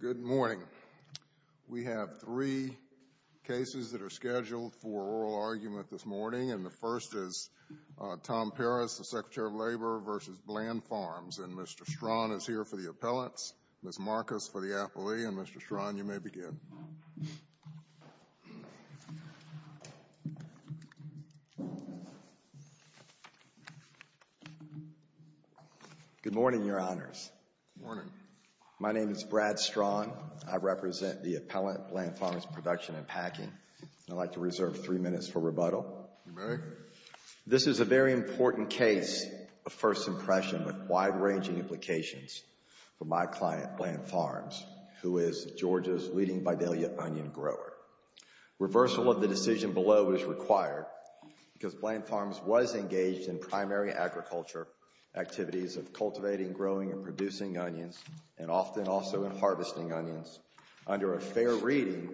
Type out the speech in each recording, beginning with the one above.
Good morning. We have three cases that are scheduled for oral argument this morning and the first is Tom Perez, the Secretary of Labor v. Bland Farms. And Mr. Strachan is here for the appellants. Ms. Marcus for the appellee and Mr. Strachan, you may begin. Good morning, Your Honors. Good morning. My name is Brad Strachan. I represent the appellant, Bland Farms Production & Packing. I'd like to reserve three minutes for rebuttal. You may. This is a very important case of first impression with wide-ranging implications for my client, Bland Farms, who is Georgia's leading Vidalia onion grower. Reversal of the decision below is required because Bland Farms was engaged in primary agriculture activities of cultivating, growing and producing onions and often also in harvesting onions under a fair reading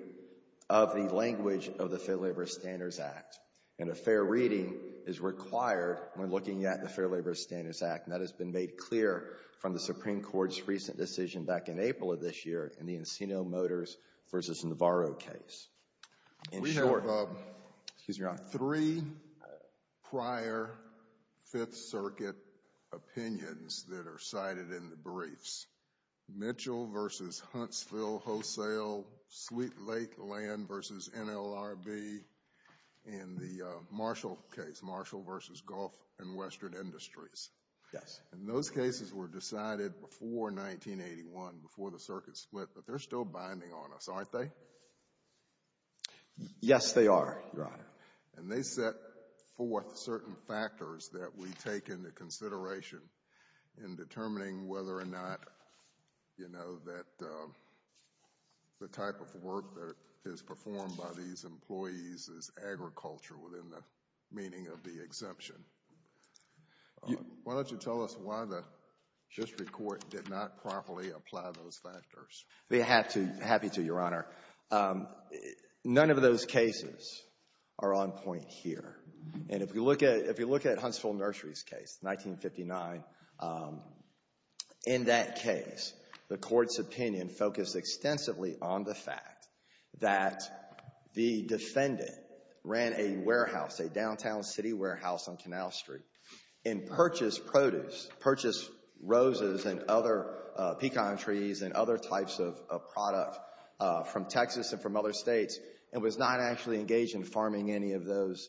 of the language of the Fair Labor Standards Act. And a fair reading is required when looking at the Fair Labor Standards Act. And that has been made clear from the Supreme Court's recent decision back in April of this year in the Encino Motors v. Navarro case. We have three prior Fifth Circuit opinions that are cited in the briefs. Mitchell v. Huntsville Wholesale, Sweet Lake Land v. NLRB and the Marshall case, Marshall v. Gulf and Western Industries. Yes. And those cases were decided before 1981, before the circuit split, but they're still binding on us, aren't they? Yes, they are, Your Honor. And they set forth certain factors that we take into consideration in determining whether or not, you know, that the type of work that is performed by these employees is agriculture within the meaning of the exemption. Why don't you tell us why the district court did not properly apply those factors? They have to, happy to, Your Honor. None of those cases are on point here. And if you look at Huntsville Nurseries case, 1959, in that case, the court's opinion focused extensively on the fact that the defendant ran a warehouse, a downtown city warehouse on Canal Street and purchased produce, purchased roses and other pecan trees and other types of product from Texas and from other states and was not actually engaged in farming any of those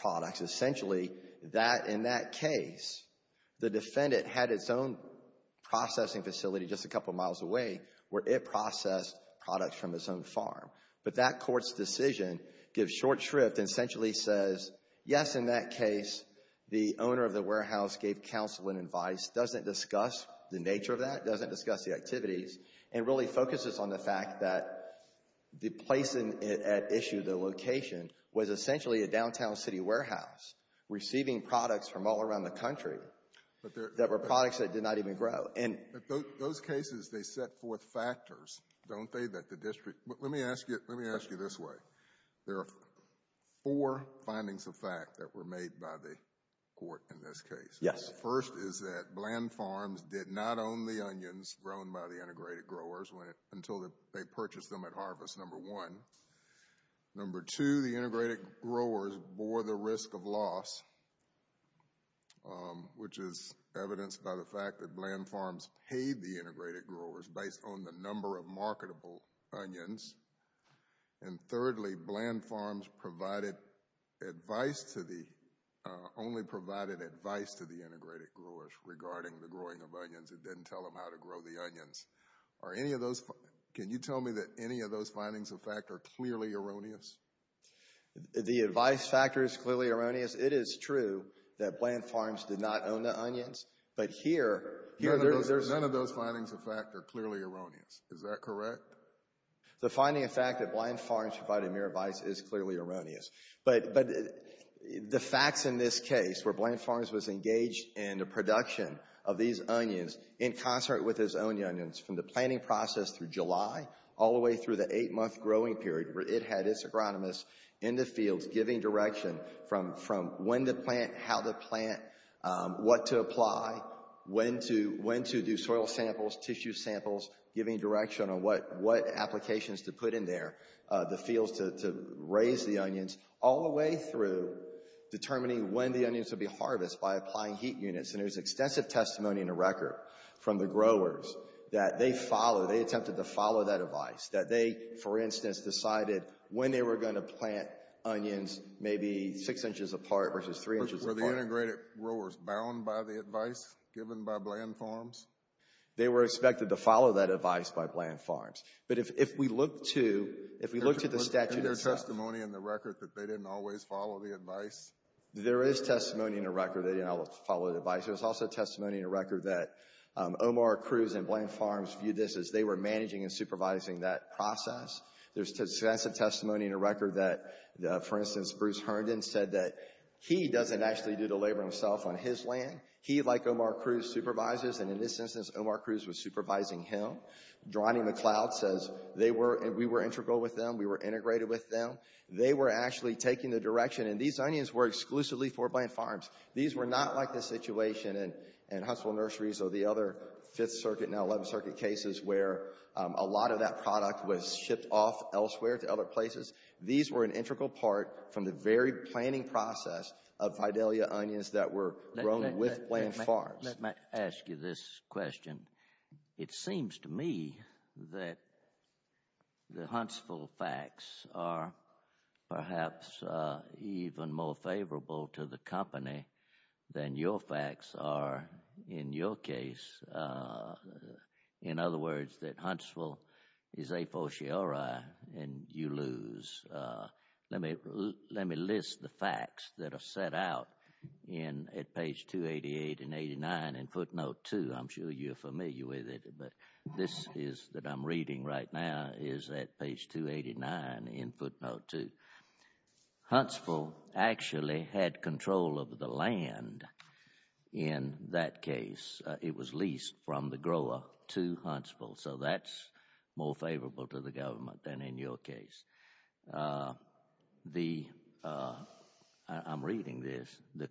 products. Essentially, that, in that case, the defendant had its own processing facility just a couple miles away where it processed products from its own farm. But that court's decision gives short shrift and essentially says, yes, in that case, the owner of the warehouse gave counsel and advice, doesn't discuss the nature of that, doesn't discuss the activities, and really focuses on the fact that the place at issue, the location, was essentially a downtown city warehouse receiving products from all around the country that were products that did not even grow. Those cases, they set forth factors, don't they, that the district, let me ask you this way. There are four findings of fact that were made by the court in this case. Yes. First is that Bland Farms did not own the onions grown by the integrated growers until they purchased them at harvest, number one. Number two, the integrated growers bore the risk of loss, which is evidenced by the fact that Bland Farms paid the integrated growers based on the number of marketable onions. And thirdly, Bland Farms provided advice to the, only provided advice to the integrated growers regarding the growing of onions. It didn't tell them how to grow the onions. Are any of those, can you tell me that any of those findings of fact are clearly erroneous? The advice factor is clearly erroneous. It is true that Bland Farms did not own the onions, but here, here there's... None of those findings of fact are clearly erroneous. Is that correct? The finding of fact that Bland Farms provided mere advice is clearly erroneous. But the facts in this case, where Bland Farms was engaged in the production of these onions in concert with its own onions, from the planting process through July, all the way through the eight month growing period, where it had its agronomist in the fields giving direction from when to plant, how to plant, what to apply, when to do soil samples, tissue samples, giving direction on what applications to put in there, the fields to raise the onions, all the way through determining when the onions would be harvested by applying heat units. And there's extensive testimony in the record from the growers that they follow, they attempted to follow that advice, that they, for instance, decided when they were going to plant onions maybe six inches apart versus three inches apart. Were the integrated growers bound by the advice given by Bland Farms? They were expected to follow that advice by Bland Farms. But if we look to, if we look to the statute itself... Isn't there testimony in the record that they didn't always follow the advice? There is testimony in the record that they didn't always follow the advice. There's also testimony in the record that Omar Cruz and Bland Farms viewed this as they were managing and supervising that process. There's extensive testimony in the record that, for instance, Bruce Herndon said that he doesn't actually do the labor himself on his land. He, like Omar Cruz, supervises, and in this instance Omar Cruz was supervising him. Johnny McLeod says they were, we were integral with them, we were integrated with them. They were actually taking the direction, and these onions were exclusively for Bland Farms. These were not like the situation in Huntsville Nurseries or the other 5th Circuit, now 11th Circuit cases where a lot of that product was shipped off elsewhere to other places. These were an integral part from the very planning process of Vidalia onions that were grown with Bland Farms. Let me ask you this question. It seems to me that the Huntsville facts are perhaps even more favorable to the company than your facts are in your case. In other words, that Huntsville is a fociore and you lose. Let me list the facts that are set out at page 288 and 289 in footnote 2. I'm sure you're familiar with it, but this that I'm reading right now is at page 289 in footnote 2. Huntsville actually had control of the land in that case. It was leased from the grower to Huntsville, so that's more favorable to the government than in your case. I'm reading this, the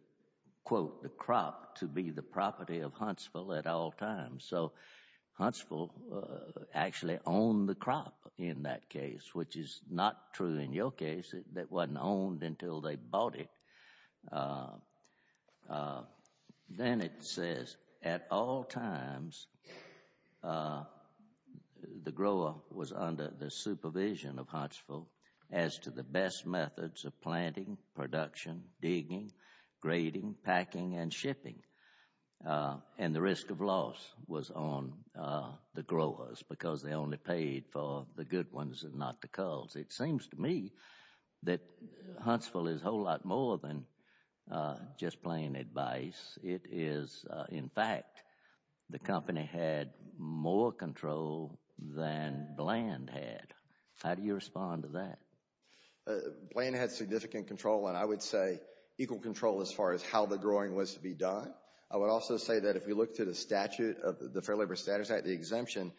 quote, the crop to be the property of Huntsville at all times. So Huntsville actually owned the crop in that case, which is not true in your case. That wasn't owned until they bought it. Then it says, at all times, the grower was under the supervision of Huntsville as to the best methods of planting, production, digging, grading, packing, and shipping. And the risk of loss was on the growers because they only paid for the good ones and not the cults. It seems to me that Huntsville is a whole lot more than just plain advice. It is, in fact, the company had more control than Bland had. How do you respond to that? Bland had significant control, and I would say equal control as far as how the growing was to be done. I would also say that if you look to the statute, the Fair Labor Statutes Act, the exemption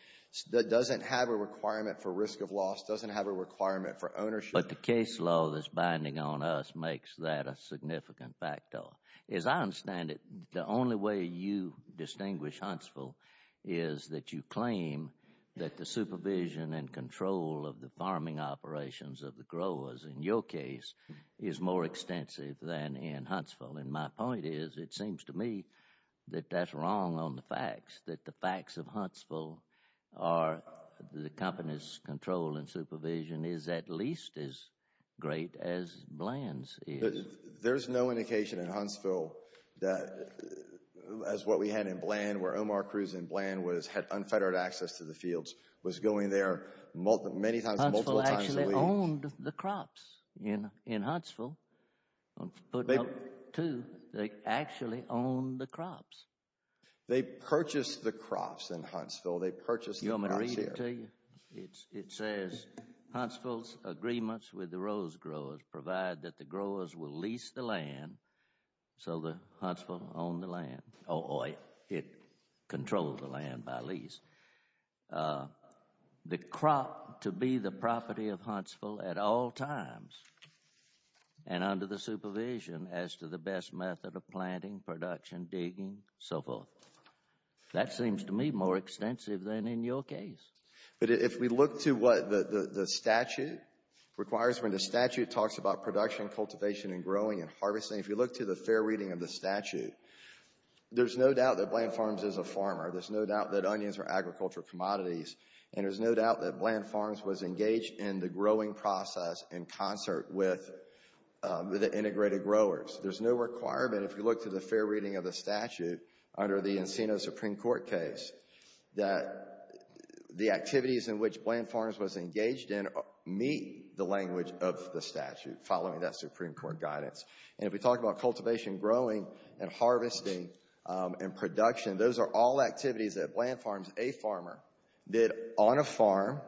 doesn't have a requirement for risk of loss, doesn't have a requirement for ownership. But the case law that's binding on us makes that a significant factor. As I understand it, the only way you distinguish Huntsville is that you claim that the supervision and control of the farming operations of the growers, in your case, is more extensive than in Huntsville. And my point is, it seems to me that that's wrong on the facts, that the facts of Huntsville are the company's control and supervision is at least as great as Bland's is. There's no indication in Huntsville that, as what we had in Bland, where Omar Cruz in Bland had unfettered access to the fields, was going there many times, multiple times a week. They owned the crops in Huntsville. They actually owned the crops. They purchased the crops in Huntsville. They purchased the crops here. You want me to read it to you? It says, Huntsville's agreements with the Rose Growers provide that the growers will lease the land so that Huntsville owned the land, or it controlled the land by lease. The crop to be the property of Huntsville at all times and under the supervision as to the best method of planting, production, digging, so forth. That seems to me more extensive than in your case. But if we look to what the statute requires, when the statute talks about production, cultivation and growing and harvesting, if you look to the fair reading of the statute, there's no doubt that Bland Farms is a farmer. There's no doubt that onions are agricultural commodities. And there's no doubt that Bland Farms was engaged in the growing process in concert with the integrated growers. There's no requirement, if you look to the fair reading of the statute, under the Encino Supreme Court case, that the activities in which Bland Farms was engaged in meet the language of the statute, following that Supreme Court guidance. And if we talk about cultivation, growing, and harvesting, and production, those are all activities that Bland Farms, a farmer, did on a farm,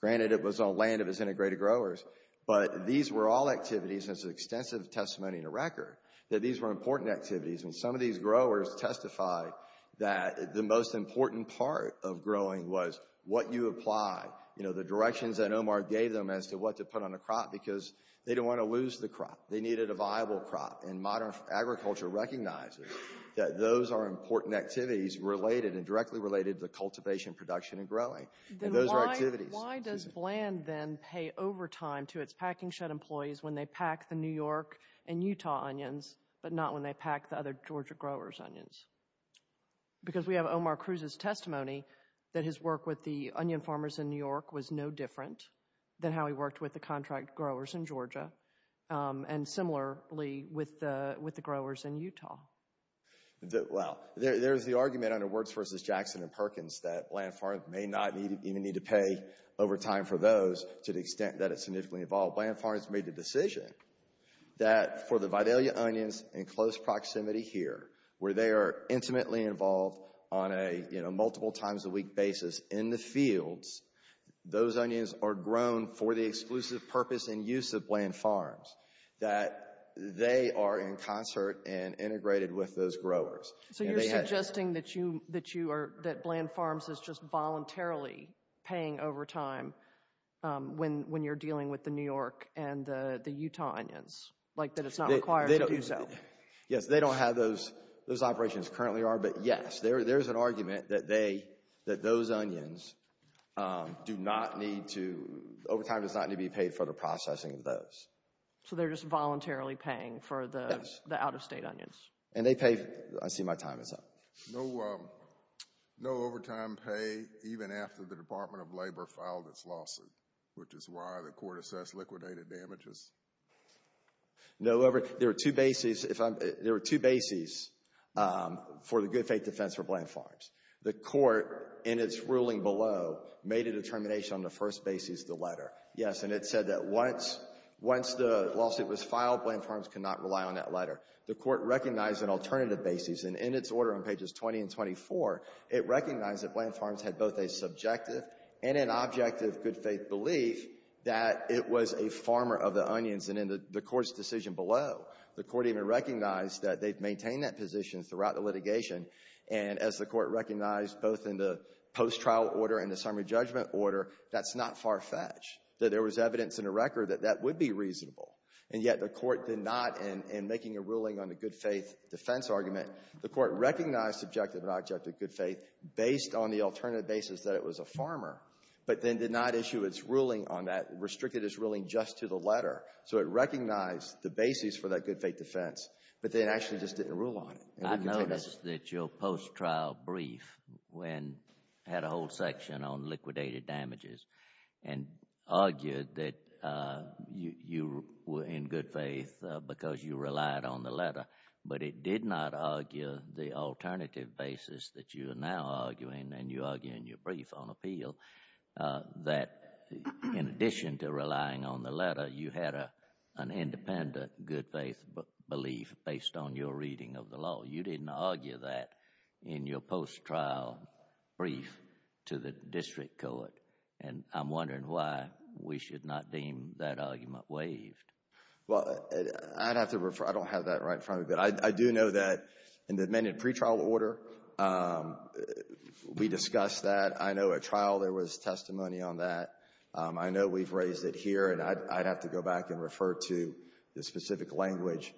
granted it was on land of its integrated growers, but these were all activities, and it's an extensive testimony to record, that these were important activities, and some of these growers testified that the most important part of growing was what you apply, you know, the directions that Omar gave them as to what to put on the crop, because they didn't want to lose the crop. They needed a viable crop, and modern agriculture recognizes that those are important activities related and directly related to the cultivation, production, and growing, and those are activities. Why does Bland then pay overtime to its packing shed employees when they pack the New York and Utah onions, but not when they pack the other Georgia growers' onions? Because we have Omar Cruz's testimony that his work with the onion farmers in New York was no different than how he worked with the contract growers in Georgia, and similarly with the growers in Utah. Well, there's the argument under Words v. Jackson and Perkins that Bland Farms may not even need to pay overtime for those to the extent that it's significantly involved. Bland Farms made the decision that for the Vidalia onions in close proximity here, where they are intimately involved on a, you know, multiple times a week basis in the fields, those onions are grown for the exclusive purpose and use of Bland Farms, that they are in concert and integrated with those growers. So you're suggesting that you are, that Bland Farms is just voluntarily paying overtime when you're dealing with the New York and the Utah onions, like that it's not required to do so? Well, yes, they don't have those, those operations currently are, but yes, there's an argument that they, that those onions do not need to, overtime does not need to be paid for the processing of those. So they're just voluntarily paying for the out-of-state onions? And they pay, I see my time is up. No overtime pay even after the Department of Labor filed its lawsuit, which is why the court assessed liquidated damages? No overtime, there were two bases, if I'm, there were two bases for the good faith defense for Bland Farms. The court, in its ruling below, made a determination on the first basis of the letter, yes, and it said that once, once the lawsuit was filed, Bland Farms could not rely on that letter. The court recognized an alternative basis, and in its order on pages 20 and 24, it recognized that Bland Farms had both a subjective and an objective good faith belief that it was a farmer of the onions, and in the court's decision below, the court even recognized that they've maintained that position throughout the litigation, and as the court recognized both in the post-trial order and the summary judgment order, that's not far-fetched, that there was evidence in the record that that would be reasonable, and yet the court did not, in making a ruling on the good faith defense argument, the court recognized subjective and objective good faith based on the alternative basis that it was a farmer, but then did not do its ruling on that, restricted its ruling just to the letter. So it recognized the basis for that good faith defense, but then actually just didn't rule on it. I noticed that your post-trial brief had a whole section on liquidated damages and argued that you were in good faith because you relied on the letter, but it did not argue the alternative basis that you are now arguing, and you argue in your brief on appeal, that in addition to relying on the letter, you had an independent good faith belief based on your reading of the law. You didn't argue that in your post-trial brief to the district court, and I'm wondering why we should not deem that argument waived. Well, I'd have to refer, I don't have that right in front of me, but I do know that in the amended pretrial order, we discussed that. I know at trial there was testimony on that. I know we've raised it here, and I'd have to go back and refer to the specific language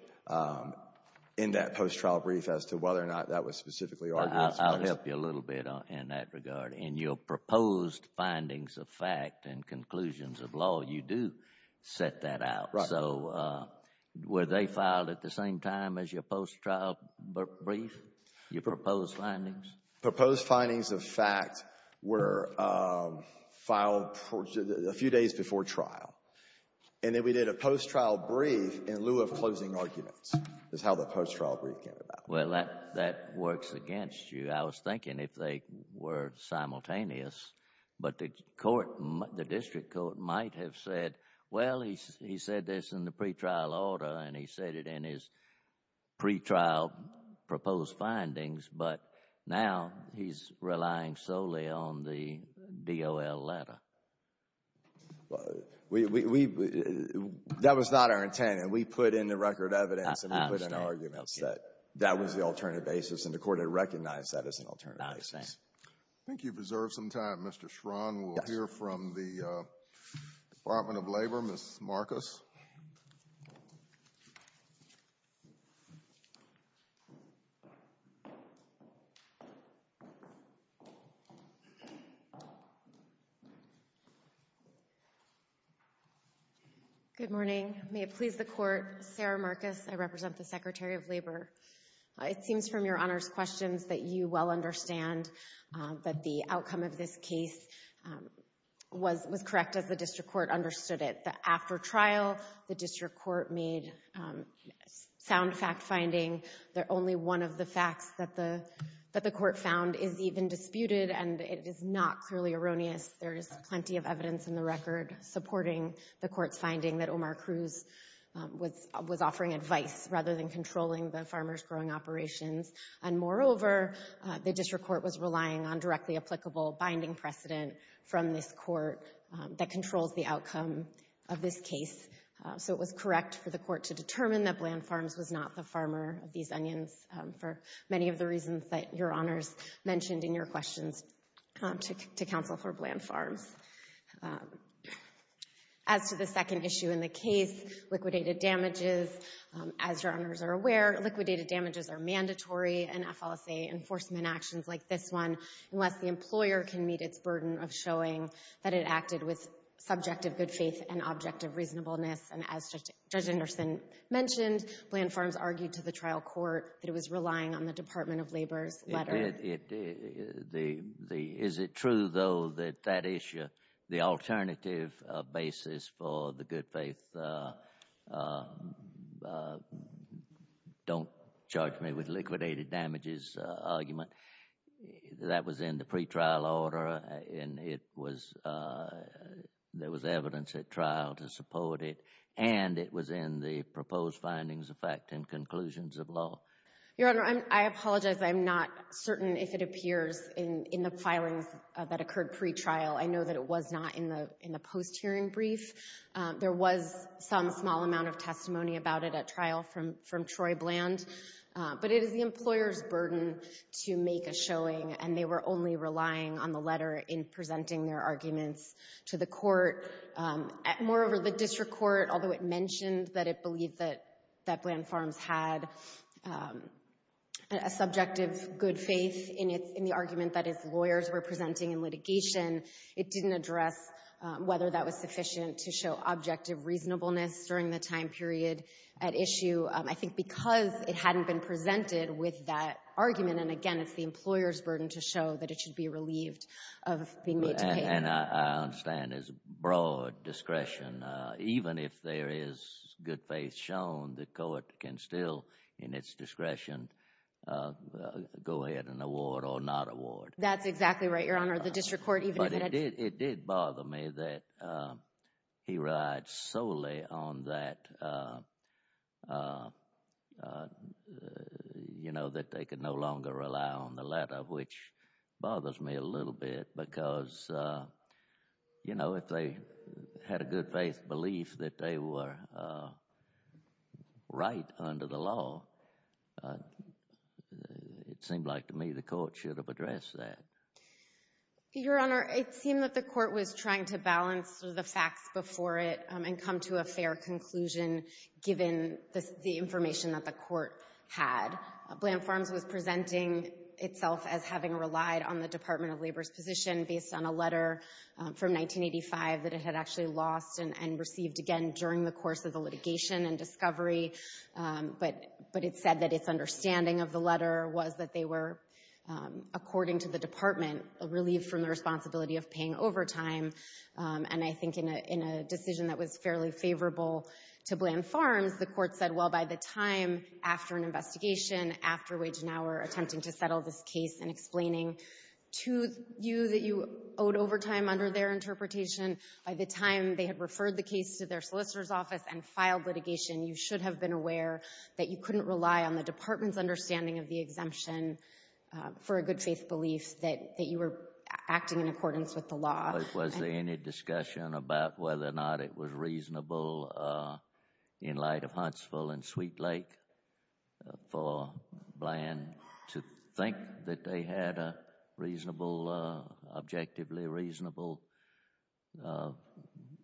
in that post-trial brief as to whether or not that was specifically argued. I'll help you a little bit in that regard. In your proposed findings of fact and conclusions of law, you do set that out. Right. So were they filed at the same time as your post-trial brief, your proposed findings? Proposed findings of fact were filed a few days before trial, and then we did a post-trial brief in lieu of closing arguments is how the post-trial brief came about. Well, that works against you. I was thinking if they were simultaneous, but the court, the district court might have said, well, he said this in the pretrial order, and he said it in his pretrial proposed findings, but now he's relying solely on the DOL letter. That was not our intent, and we put in the record evidence, and we put in arguments. That was the alternative basis, and the court had recognized that as an alternative basis. I think you've reserved some time, Mr. Schron. Yes. We have a question here from the Department of Labor, Ms. Marcus. Good morning. May it please the Court. Sarah Marcus. I represent the Secretary of Labor. It seems from Your Honor's questions that you well understand that the outcome of this case was correct as the district court understood it. After trial, the district court made sound fact-finding that only one of the facts that the court found is even disputed, and it is not clearly erroneous. There is plenty of evidence in the record supporting the court's finding that Omar And, moreover, the district court was relying on directly applicable binding precedent from this court that controls the outcome of this case, so it was correct for the court to determine that Bland Farms was not the farmer of these onions for many of the reasons that Your Honors mentioned in your questions to counsel for Bland Farms. As to the second issue in the case, liquidated damages, as Your Honors are aware, liquidated damages are mandatory in FLSA enforcement actions like this one unless the employer can meet its burden of showing that it acted with subjective good faith and objective reasonableness, and as Judge Anderson mentioned, Bland Farms argued to the trial court that it was relying on the Department of Labor's letter. Is it true, though, that that issue, the alternative basis for the good faith don't charge me with liquidated damages argument, that was in the pretrial order and there was evidence at trial to support it, and it was in the proposed findings of fact and conclusions of law? Your Honor, I apologize. I'm not certain if it appears in the filings that occurred pretrial. I know that it was not in the post-hearing brief. There was some small amount of testimony about it at trial from Troy Bland, but it is the employer's burden to make a showing, and they were only relying on the letter in presenting their arguments to the court. Moreover, the district court, although it mentioned that it believed that Bland Farms had a subjective good faith in the argument that its lawyers were presenting in litigation, it didn't address whether that was sufficient to show objective reasonableness during the time period at issue. I think because it hadn't been presented with that argument, and again, it's the employer's burden to show that it should be relieved of being made to pay. And I understand his broad discretion. Even if there is good faith shown, the court can still, in its discretion, go ahead and award or not award. That's exactly right, Your Honor. The district court, even if it... But it did bother me that he relied solely on that, you know, that they could no longer rely on the letter, which bothers me a little bit because, you know, if they had a good faith belief that they were right under the law, it seemed like to me the court should have addressed that. Your Honor, it seemed that the court was trying to balance the facts before it and come to a fair conclusion given the information that the court had. Bland Farms was presenting itself as having relied on the Department of Labor's position based on a letter from 1985 that it had actually lost and received again during the course of the litigation and discovery, but it said that its understanding of the letter was that they were, according to the department, relieved from the responsibility of paying overtime. And I think in a decision that was fairly favorable to Bland Farms, the court said, well, by the time after an investigation, after Wage and Hour attempting to settle this case and explaining to you that you owed overtime under their interpretation, by the time they had referred the case to their solicitor's office and filed litigation, you should have been aware that you couldn't rely on the department's understanding of the exemption for a good faith belief that you were acting in accordance with the law. Was there any discussion about whether or not it was reasonable in light of Huntsville and Sweet Lake for Bland to think that they had a reasonable, objectively reasonable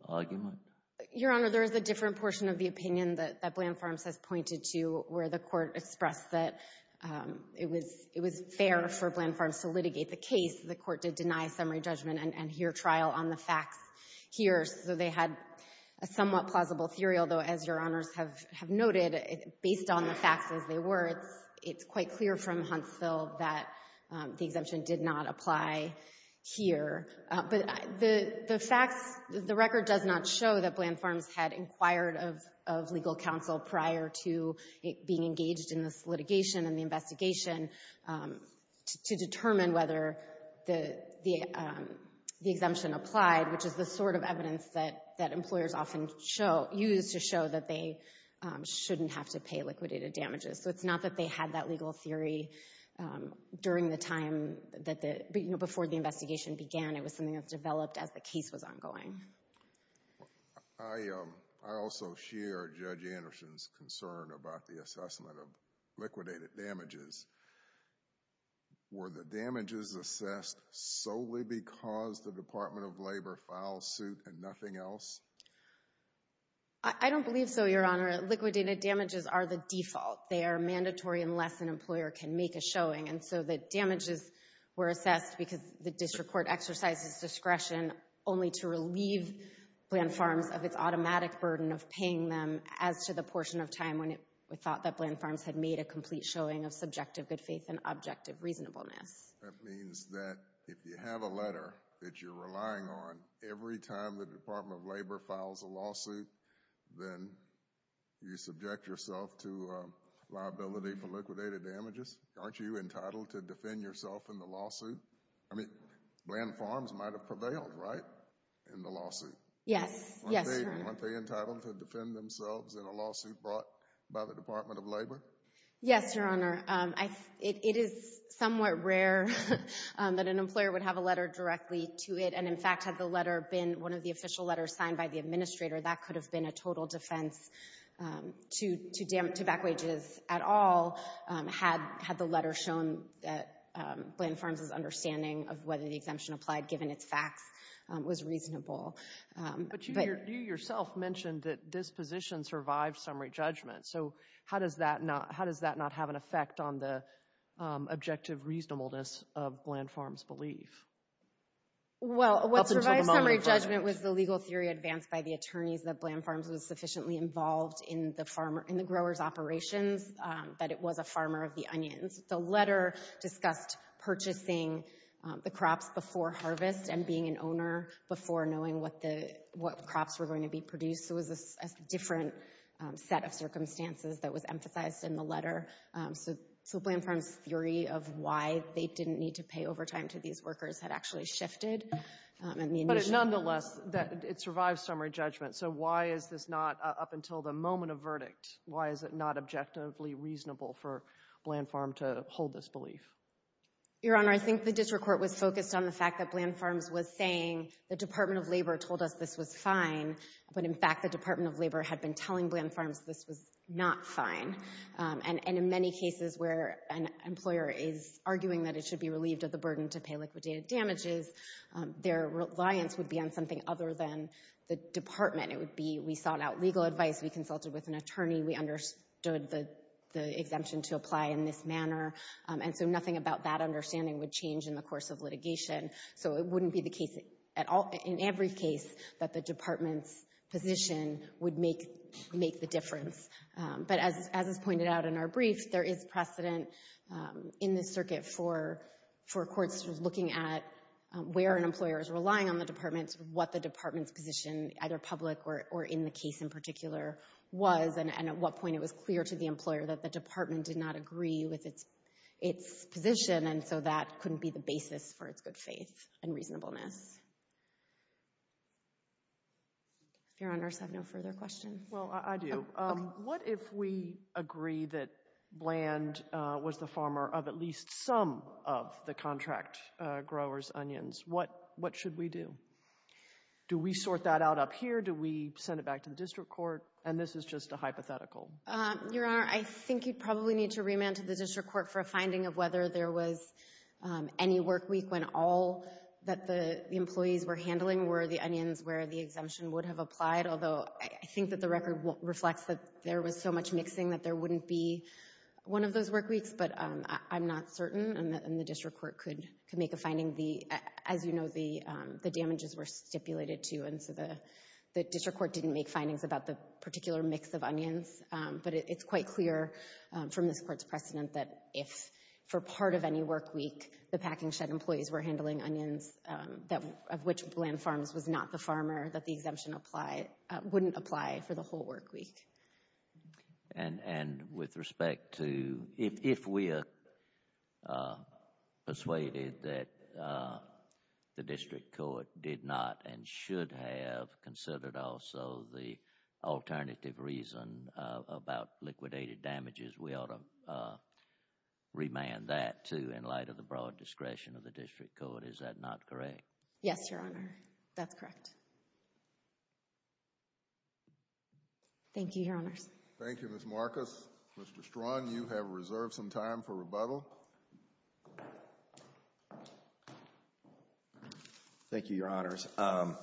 argument? Your Honor, there is a different portion of the opinion that Bland Farms has pointed to where the court expressed that it was fair for Bland Farms to litigate the case. The court did deny summary judgment and hear trial on the facts here. So they had a somewhat plausible theory, although, as Your Honors have noted, based on the facts as they were, it's quite clear from Huntsville that the exemption did not apply here. But the facts, the record does not show that Bland Farms had inquired of legal counsel prior to being engaged in this litigation and the investigation to determine whether the exemption applied, which is the sort of evidence that employers often use to show that they shouldn't have to pay liquidated damages. So it's not that they had that legal theory during the time that the, you know, before the investigation began. It was something that developed as the case was ongoing. I also share Judge Anderson's concern about the assessment of liquidated damages. Were the damages assessed solely because the Department of Labor filed suit and nothing else? I don't believe so, Your Honor. Liquidated damages are the default. They are mandatory unless an employer can make a showing. And so the damages were assessed because the district court exercised its discretion only to relieve Bland Farms of its automatic burden of paying them as to the portion of time when it was thought that Bland Farms had made a complete showing of subjective good faith and objective reasonableness. That means that if you have a letter that you're relying on every time the Department of Labor files a lawsuit, then you subject yourself to liability for liquidated damages? Aren't you entitled to defend yourself in the lawsuit? I mean, Bland Farms might have prevailed, right, in the lawsuit? Yes. Yes, Your Honor. Aren't you entitled to defend themselves in a lawsuit brought by the Department of Labor? Yes, Your Honor. It is somewhat rare that an employer would have a letter directly to it, and in fact had the letter been one of the official letters signed by the administrator, that could have been a total defense to back wages at all had the letter shown that Bland Farms' understanding of whether the exemption applied, given its facts, was reasonable. But you yourself mentioned that this position survived summary judgment, so how does that not have an effect on the objective reasonableness of Bland Farms' belief? Well, what survived summary judgment was the legal theory advanced by the attorneys that Bland Farms was sufficiently involved in the growers' operations that it was a farmer of the onions. The letter discussed purchasing the crops before harvest and being an owner before knowing what crops were going to be produced. So it was a different set of circumstances that was emphasized in the letter. So Bland Farms' theory of why they didn't need to pay overtime to these workers had actually shifted. But nonetheless, it survived summary judgment. So why is this not, up until the moment of verdict, why is it not objectively reasonable for Bland Farm to hold this belief? Your Honor, I think the district court was focused on the fact that Bland Farms was saying, the Department of Labor told us this was fine, but in fact the Department of Labor had been telling Bland Farms this was not fine. And in many cases where an employer is arguing that it should be relieved of the burden to pay liquidated damages, their reliance would be on something other than the department. It would be, we sought out legal advice, we consulted with an attorney, we understood the exemption to apply in this manner. And so nothing about that understanding would change in the course of litigation. So it wouldn't be the case in every case that the department's position would make the difference. But as is pointed out in our brief, there is precedent in this circuit for courts looking at where an employer is relying on the department, what the department's position, either public or in the case in particular, was, and at what point it was clear to the employer that the department did not agree with its position, and so that couldn't be the basis for its good faith and reasonableness. If your honors have no further questions. Well, I do. What if we agree that Bland was the farmer of at least some of the contract growers' onions? What should we do? Do we sort that out up here? Do we send it back to the district court? And this is just a hypothetical. Your Honor, I think you'd probably need to remand to the district court for a finding of whether there was any work week when all that the employees were handling were the onions where the exemption would have applied, although I think that the record reflects that there was so much mixing that there wouldn't be one of those work weeks. But I'm not certain, and the district court could make a finding. As you know, the damages were stipulated, too, and so the district court didn't make findings about the particular mix of onions, but it's quite clear from this court's precedent that if, for part of any work week, the packing shed employees were handling onions of which Bland Farms was not the farmer, that the exemption wouldn't apply for the whole work week. And with respect to if we are persuaded that the district court did not and should have considered also the alternative reason about liquidated damages, we ought to remand that, too, in light of the broad discretion of the district court. Is that not correct? Yes, Your Honor, that's correct. Thank you, Your Honors. Thank you, Ms. Marcus. Mr. Strachan, you have reserved some time for rebuttal. Thank you, Your Honors. I'll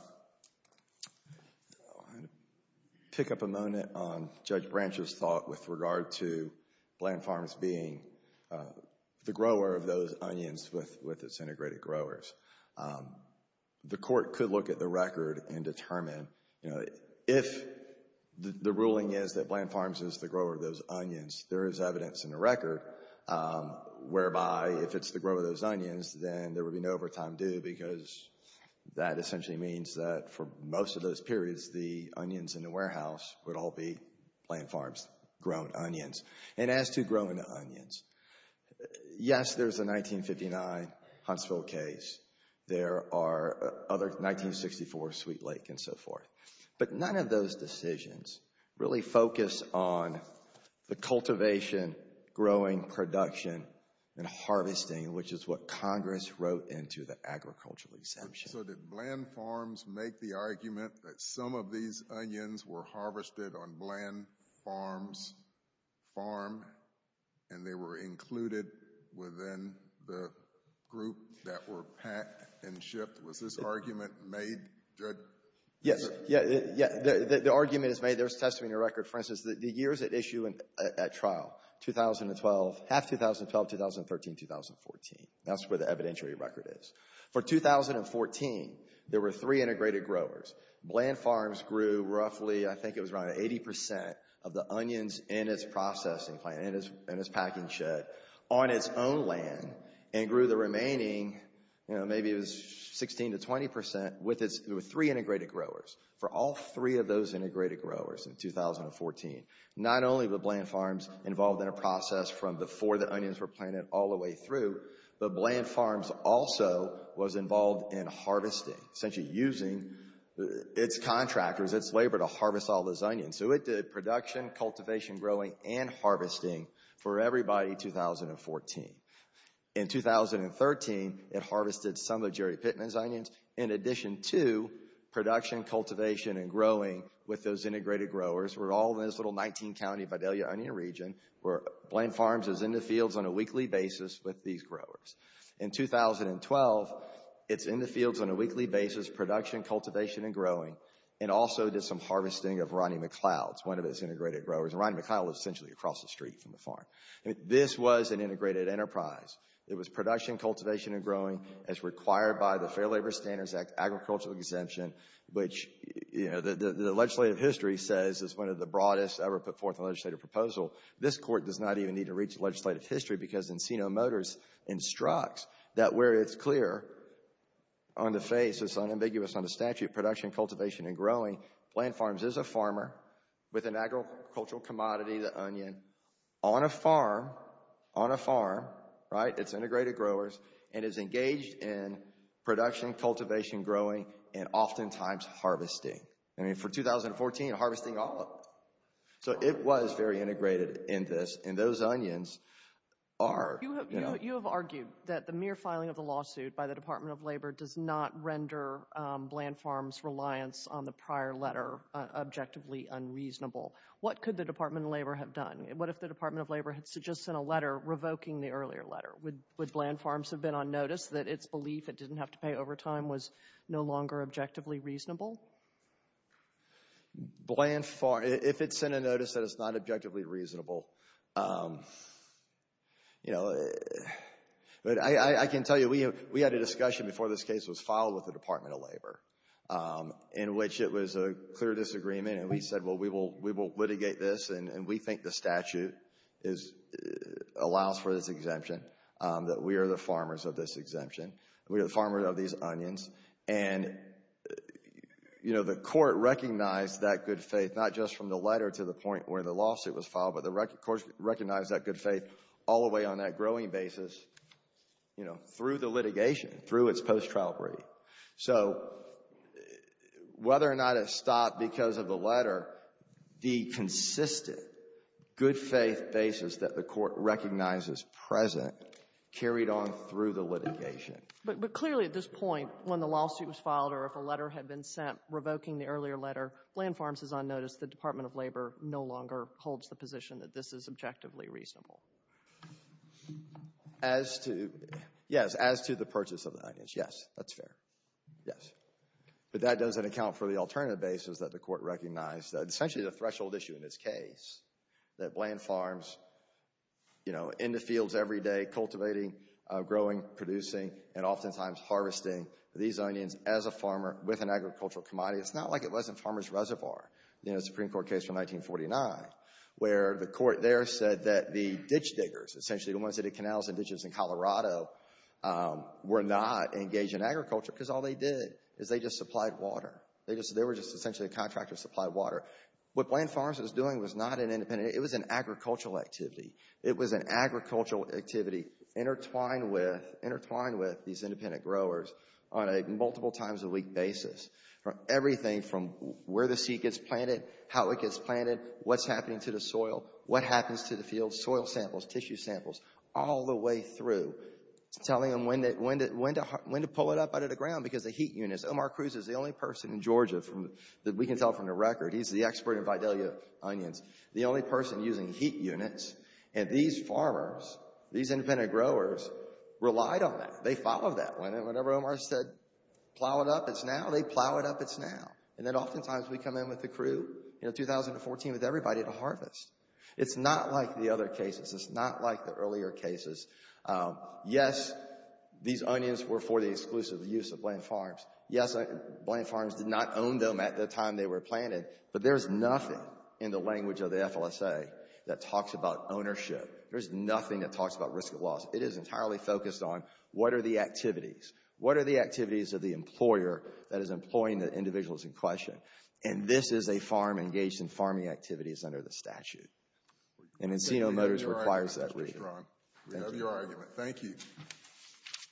pick up a moment on Judge Branch's thought with regard to Bland Farms being the grower of those onions with its integrated growers. The court could look at the record and determine, you know, if the ruling is that Bland Farms is the grower of those onions, there is evidence in the record whereby if it's the grower of those onions, then there would be no overtime due because that essentially means that for most of those periods, the onions in the warehouse would all be Bland Farms' grown onions. And as to growing the onions, yes, there's a 1959 Huntsville case. There are other 1964 Sweet Lake and so forth. But none of those decisions really focus on the cultivation, growing, production, and harvesting, which is what Congress wrote into the agricultural exemption. So did Bland Farms make the argument that some of these onions were harvested on Bland Farms' farm and they were included within the group that were packed and shipped? Was this argument made, Judge? Yes. Yeah, the argument is made. There's testimony in the record. For instance, the years at issue at trial, 2012, half 2012, 2013, 2014. That's where the evidentiary record is. For 2014, there were three integrated growers. Bland Farms grew roughly, I think it was around 80 percent of the onions in its processing plant, in its packing shed, on its own land and grew the remaining, maybe it was 16 to 20 percent, with three integrated growers, for all three of those integrated growers in 2014. Not only were Bland Farms involved in a process from before the onions were planted all the way through, but Bland Farms also was involved in harvesting, essentially using its contractors, its labor, to harvest all those onions. So it did production, cultivation, growing, and harvesting for everybody in 2014. In 2013, it harvested some of Jerry Pittman's onions. In addition to production, cultivation, and growing with those integrated growers, we're all in this little 19-county Vidalia onion region where Bland Farms is in the fields on a weekly basis with these growers. In 2012, it's in the fields on a weekly basis, production, cultivation, and growing, and also did some harvesting of Ronnie McLeod's, one of its integrated growers. Ronnie McLeod was essentially across the street from the farm. This was an integrated enterprise. It was production, cultivation, and growing as required by the Fair Labor Standards Act Agricultural Exemption, which the legislative history says is one of the broadest ever put forth in a legislative proposal. This court does not even need to read the legislative history because Encino Motors instructs that where it's clear on the face, it's unambiguous on the statute, production, cultivation, and growing, Bland Farms is a farmer with an agricultural commodity, the onion, on a farm, on a farm, right? It's integrated growers and is engaged in production, cultivation, growing, and oftentimes harvesting. I mean, for 2014, harvesting all of it. So it was very integrated in this, and those onions are, you know. You have argued that the mere filing of the lawsuit by the Department of Labor does not render Bland Farms' reliance on the prior letter objectively unreasonable. What could the Department of Labor have done? What if the Department of Labor had just sent a letter revoking the earlier letter? Would Bland Farms have been on notice that its belief it didn't have to pay overtime was no longer objectively reasonable? Bland Farms, if it sent a notice that it's not objectively reasonable, you know. But I can tell you we had a discussion before this case was filed with the Department of Labor in which it was a clear disagreement, and we said, well, we will litigate this, and we think the statute allows for this exemption, that we are the farmers of this exemption. We are the farmers of these onions, and, you know, the court recognized that good faith, not just from the letter to the point where the lawsuit was filed, but the court recognized that good faith all the way on that growing basis, you know, through the litigation, through its post-trial brief. So whether or not it stopped because of the letter, the consistent good faith basis that the court recognizes present carried on through the litigation. But clearly at this point, when the lawsuit was filed, or if a letter had been sent revoking the earlier letter, Bland Farms is on notice the Department of Labor no longer holds the position that this is objectively reasonable. As to, yes, as to the purchase of the onions, yes, that's fair. Yes. But that doesn't account for the alternative basis that the court recognized, essentially the threshold issue in this case, that Bland Farms, you know, in the fields every day cultivating, growing, producing, and oftentimes harvesting these onions as a farmer with an agricultural commodity. It's not like it was in Farmers Reservoir in the Supreme Court case from 1949, where the court there said that the ditch diggers, essentially the ones that did canals and ditches in Colorado, were not engaged in agriculture because all they did is they just supplied water. They were just essentially a contractor that supplied water. What Bland Farms was doing was not an independent, it was an agricultural activity. It was an agricultural activity intertwined with these independent growers on a multiple times a week basis. Everything from where the seed gets planted, how it gets planted, what's happening to the soil, what happens to the field, soil samples, tissue samples, all the way through, telling them when to pull it up out of the ground because the heat units, Omar Cruz is the only person in Georgia that we can tell from the record, he's the expert in Vidalia onions, the only person using heat units, and these farmers, these independent growers relied on that. They followed that. Whenever Omar said, plow it up, it's now, they plow it up, it's now. And then oftentimes we come in with the crew in 2014 with everybody to harvest. It's not like the other cases. It's not like the earlier cases. Yes, these onions were for the exclusive use of Bland Farms. Yes, Bland Farms did not own them at the time they were planted, but there's nothing in the language of the FLSA that talks about ownership. There's nothing that talks about risk of loss. It is entirely focused on what are the activities. What are the activities of the employer that is employing the individuals in question? And this is a farm engaged in farming activities under the statute. And Encino Motors requires that reading. We love your argument. Thank you.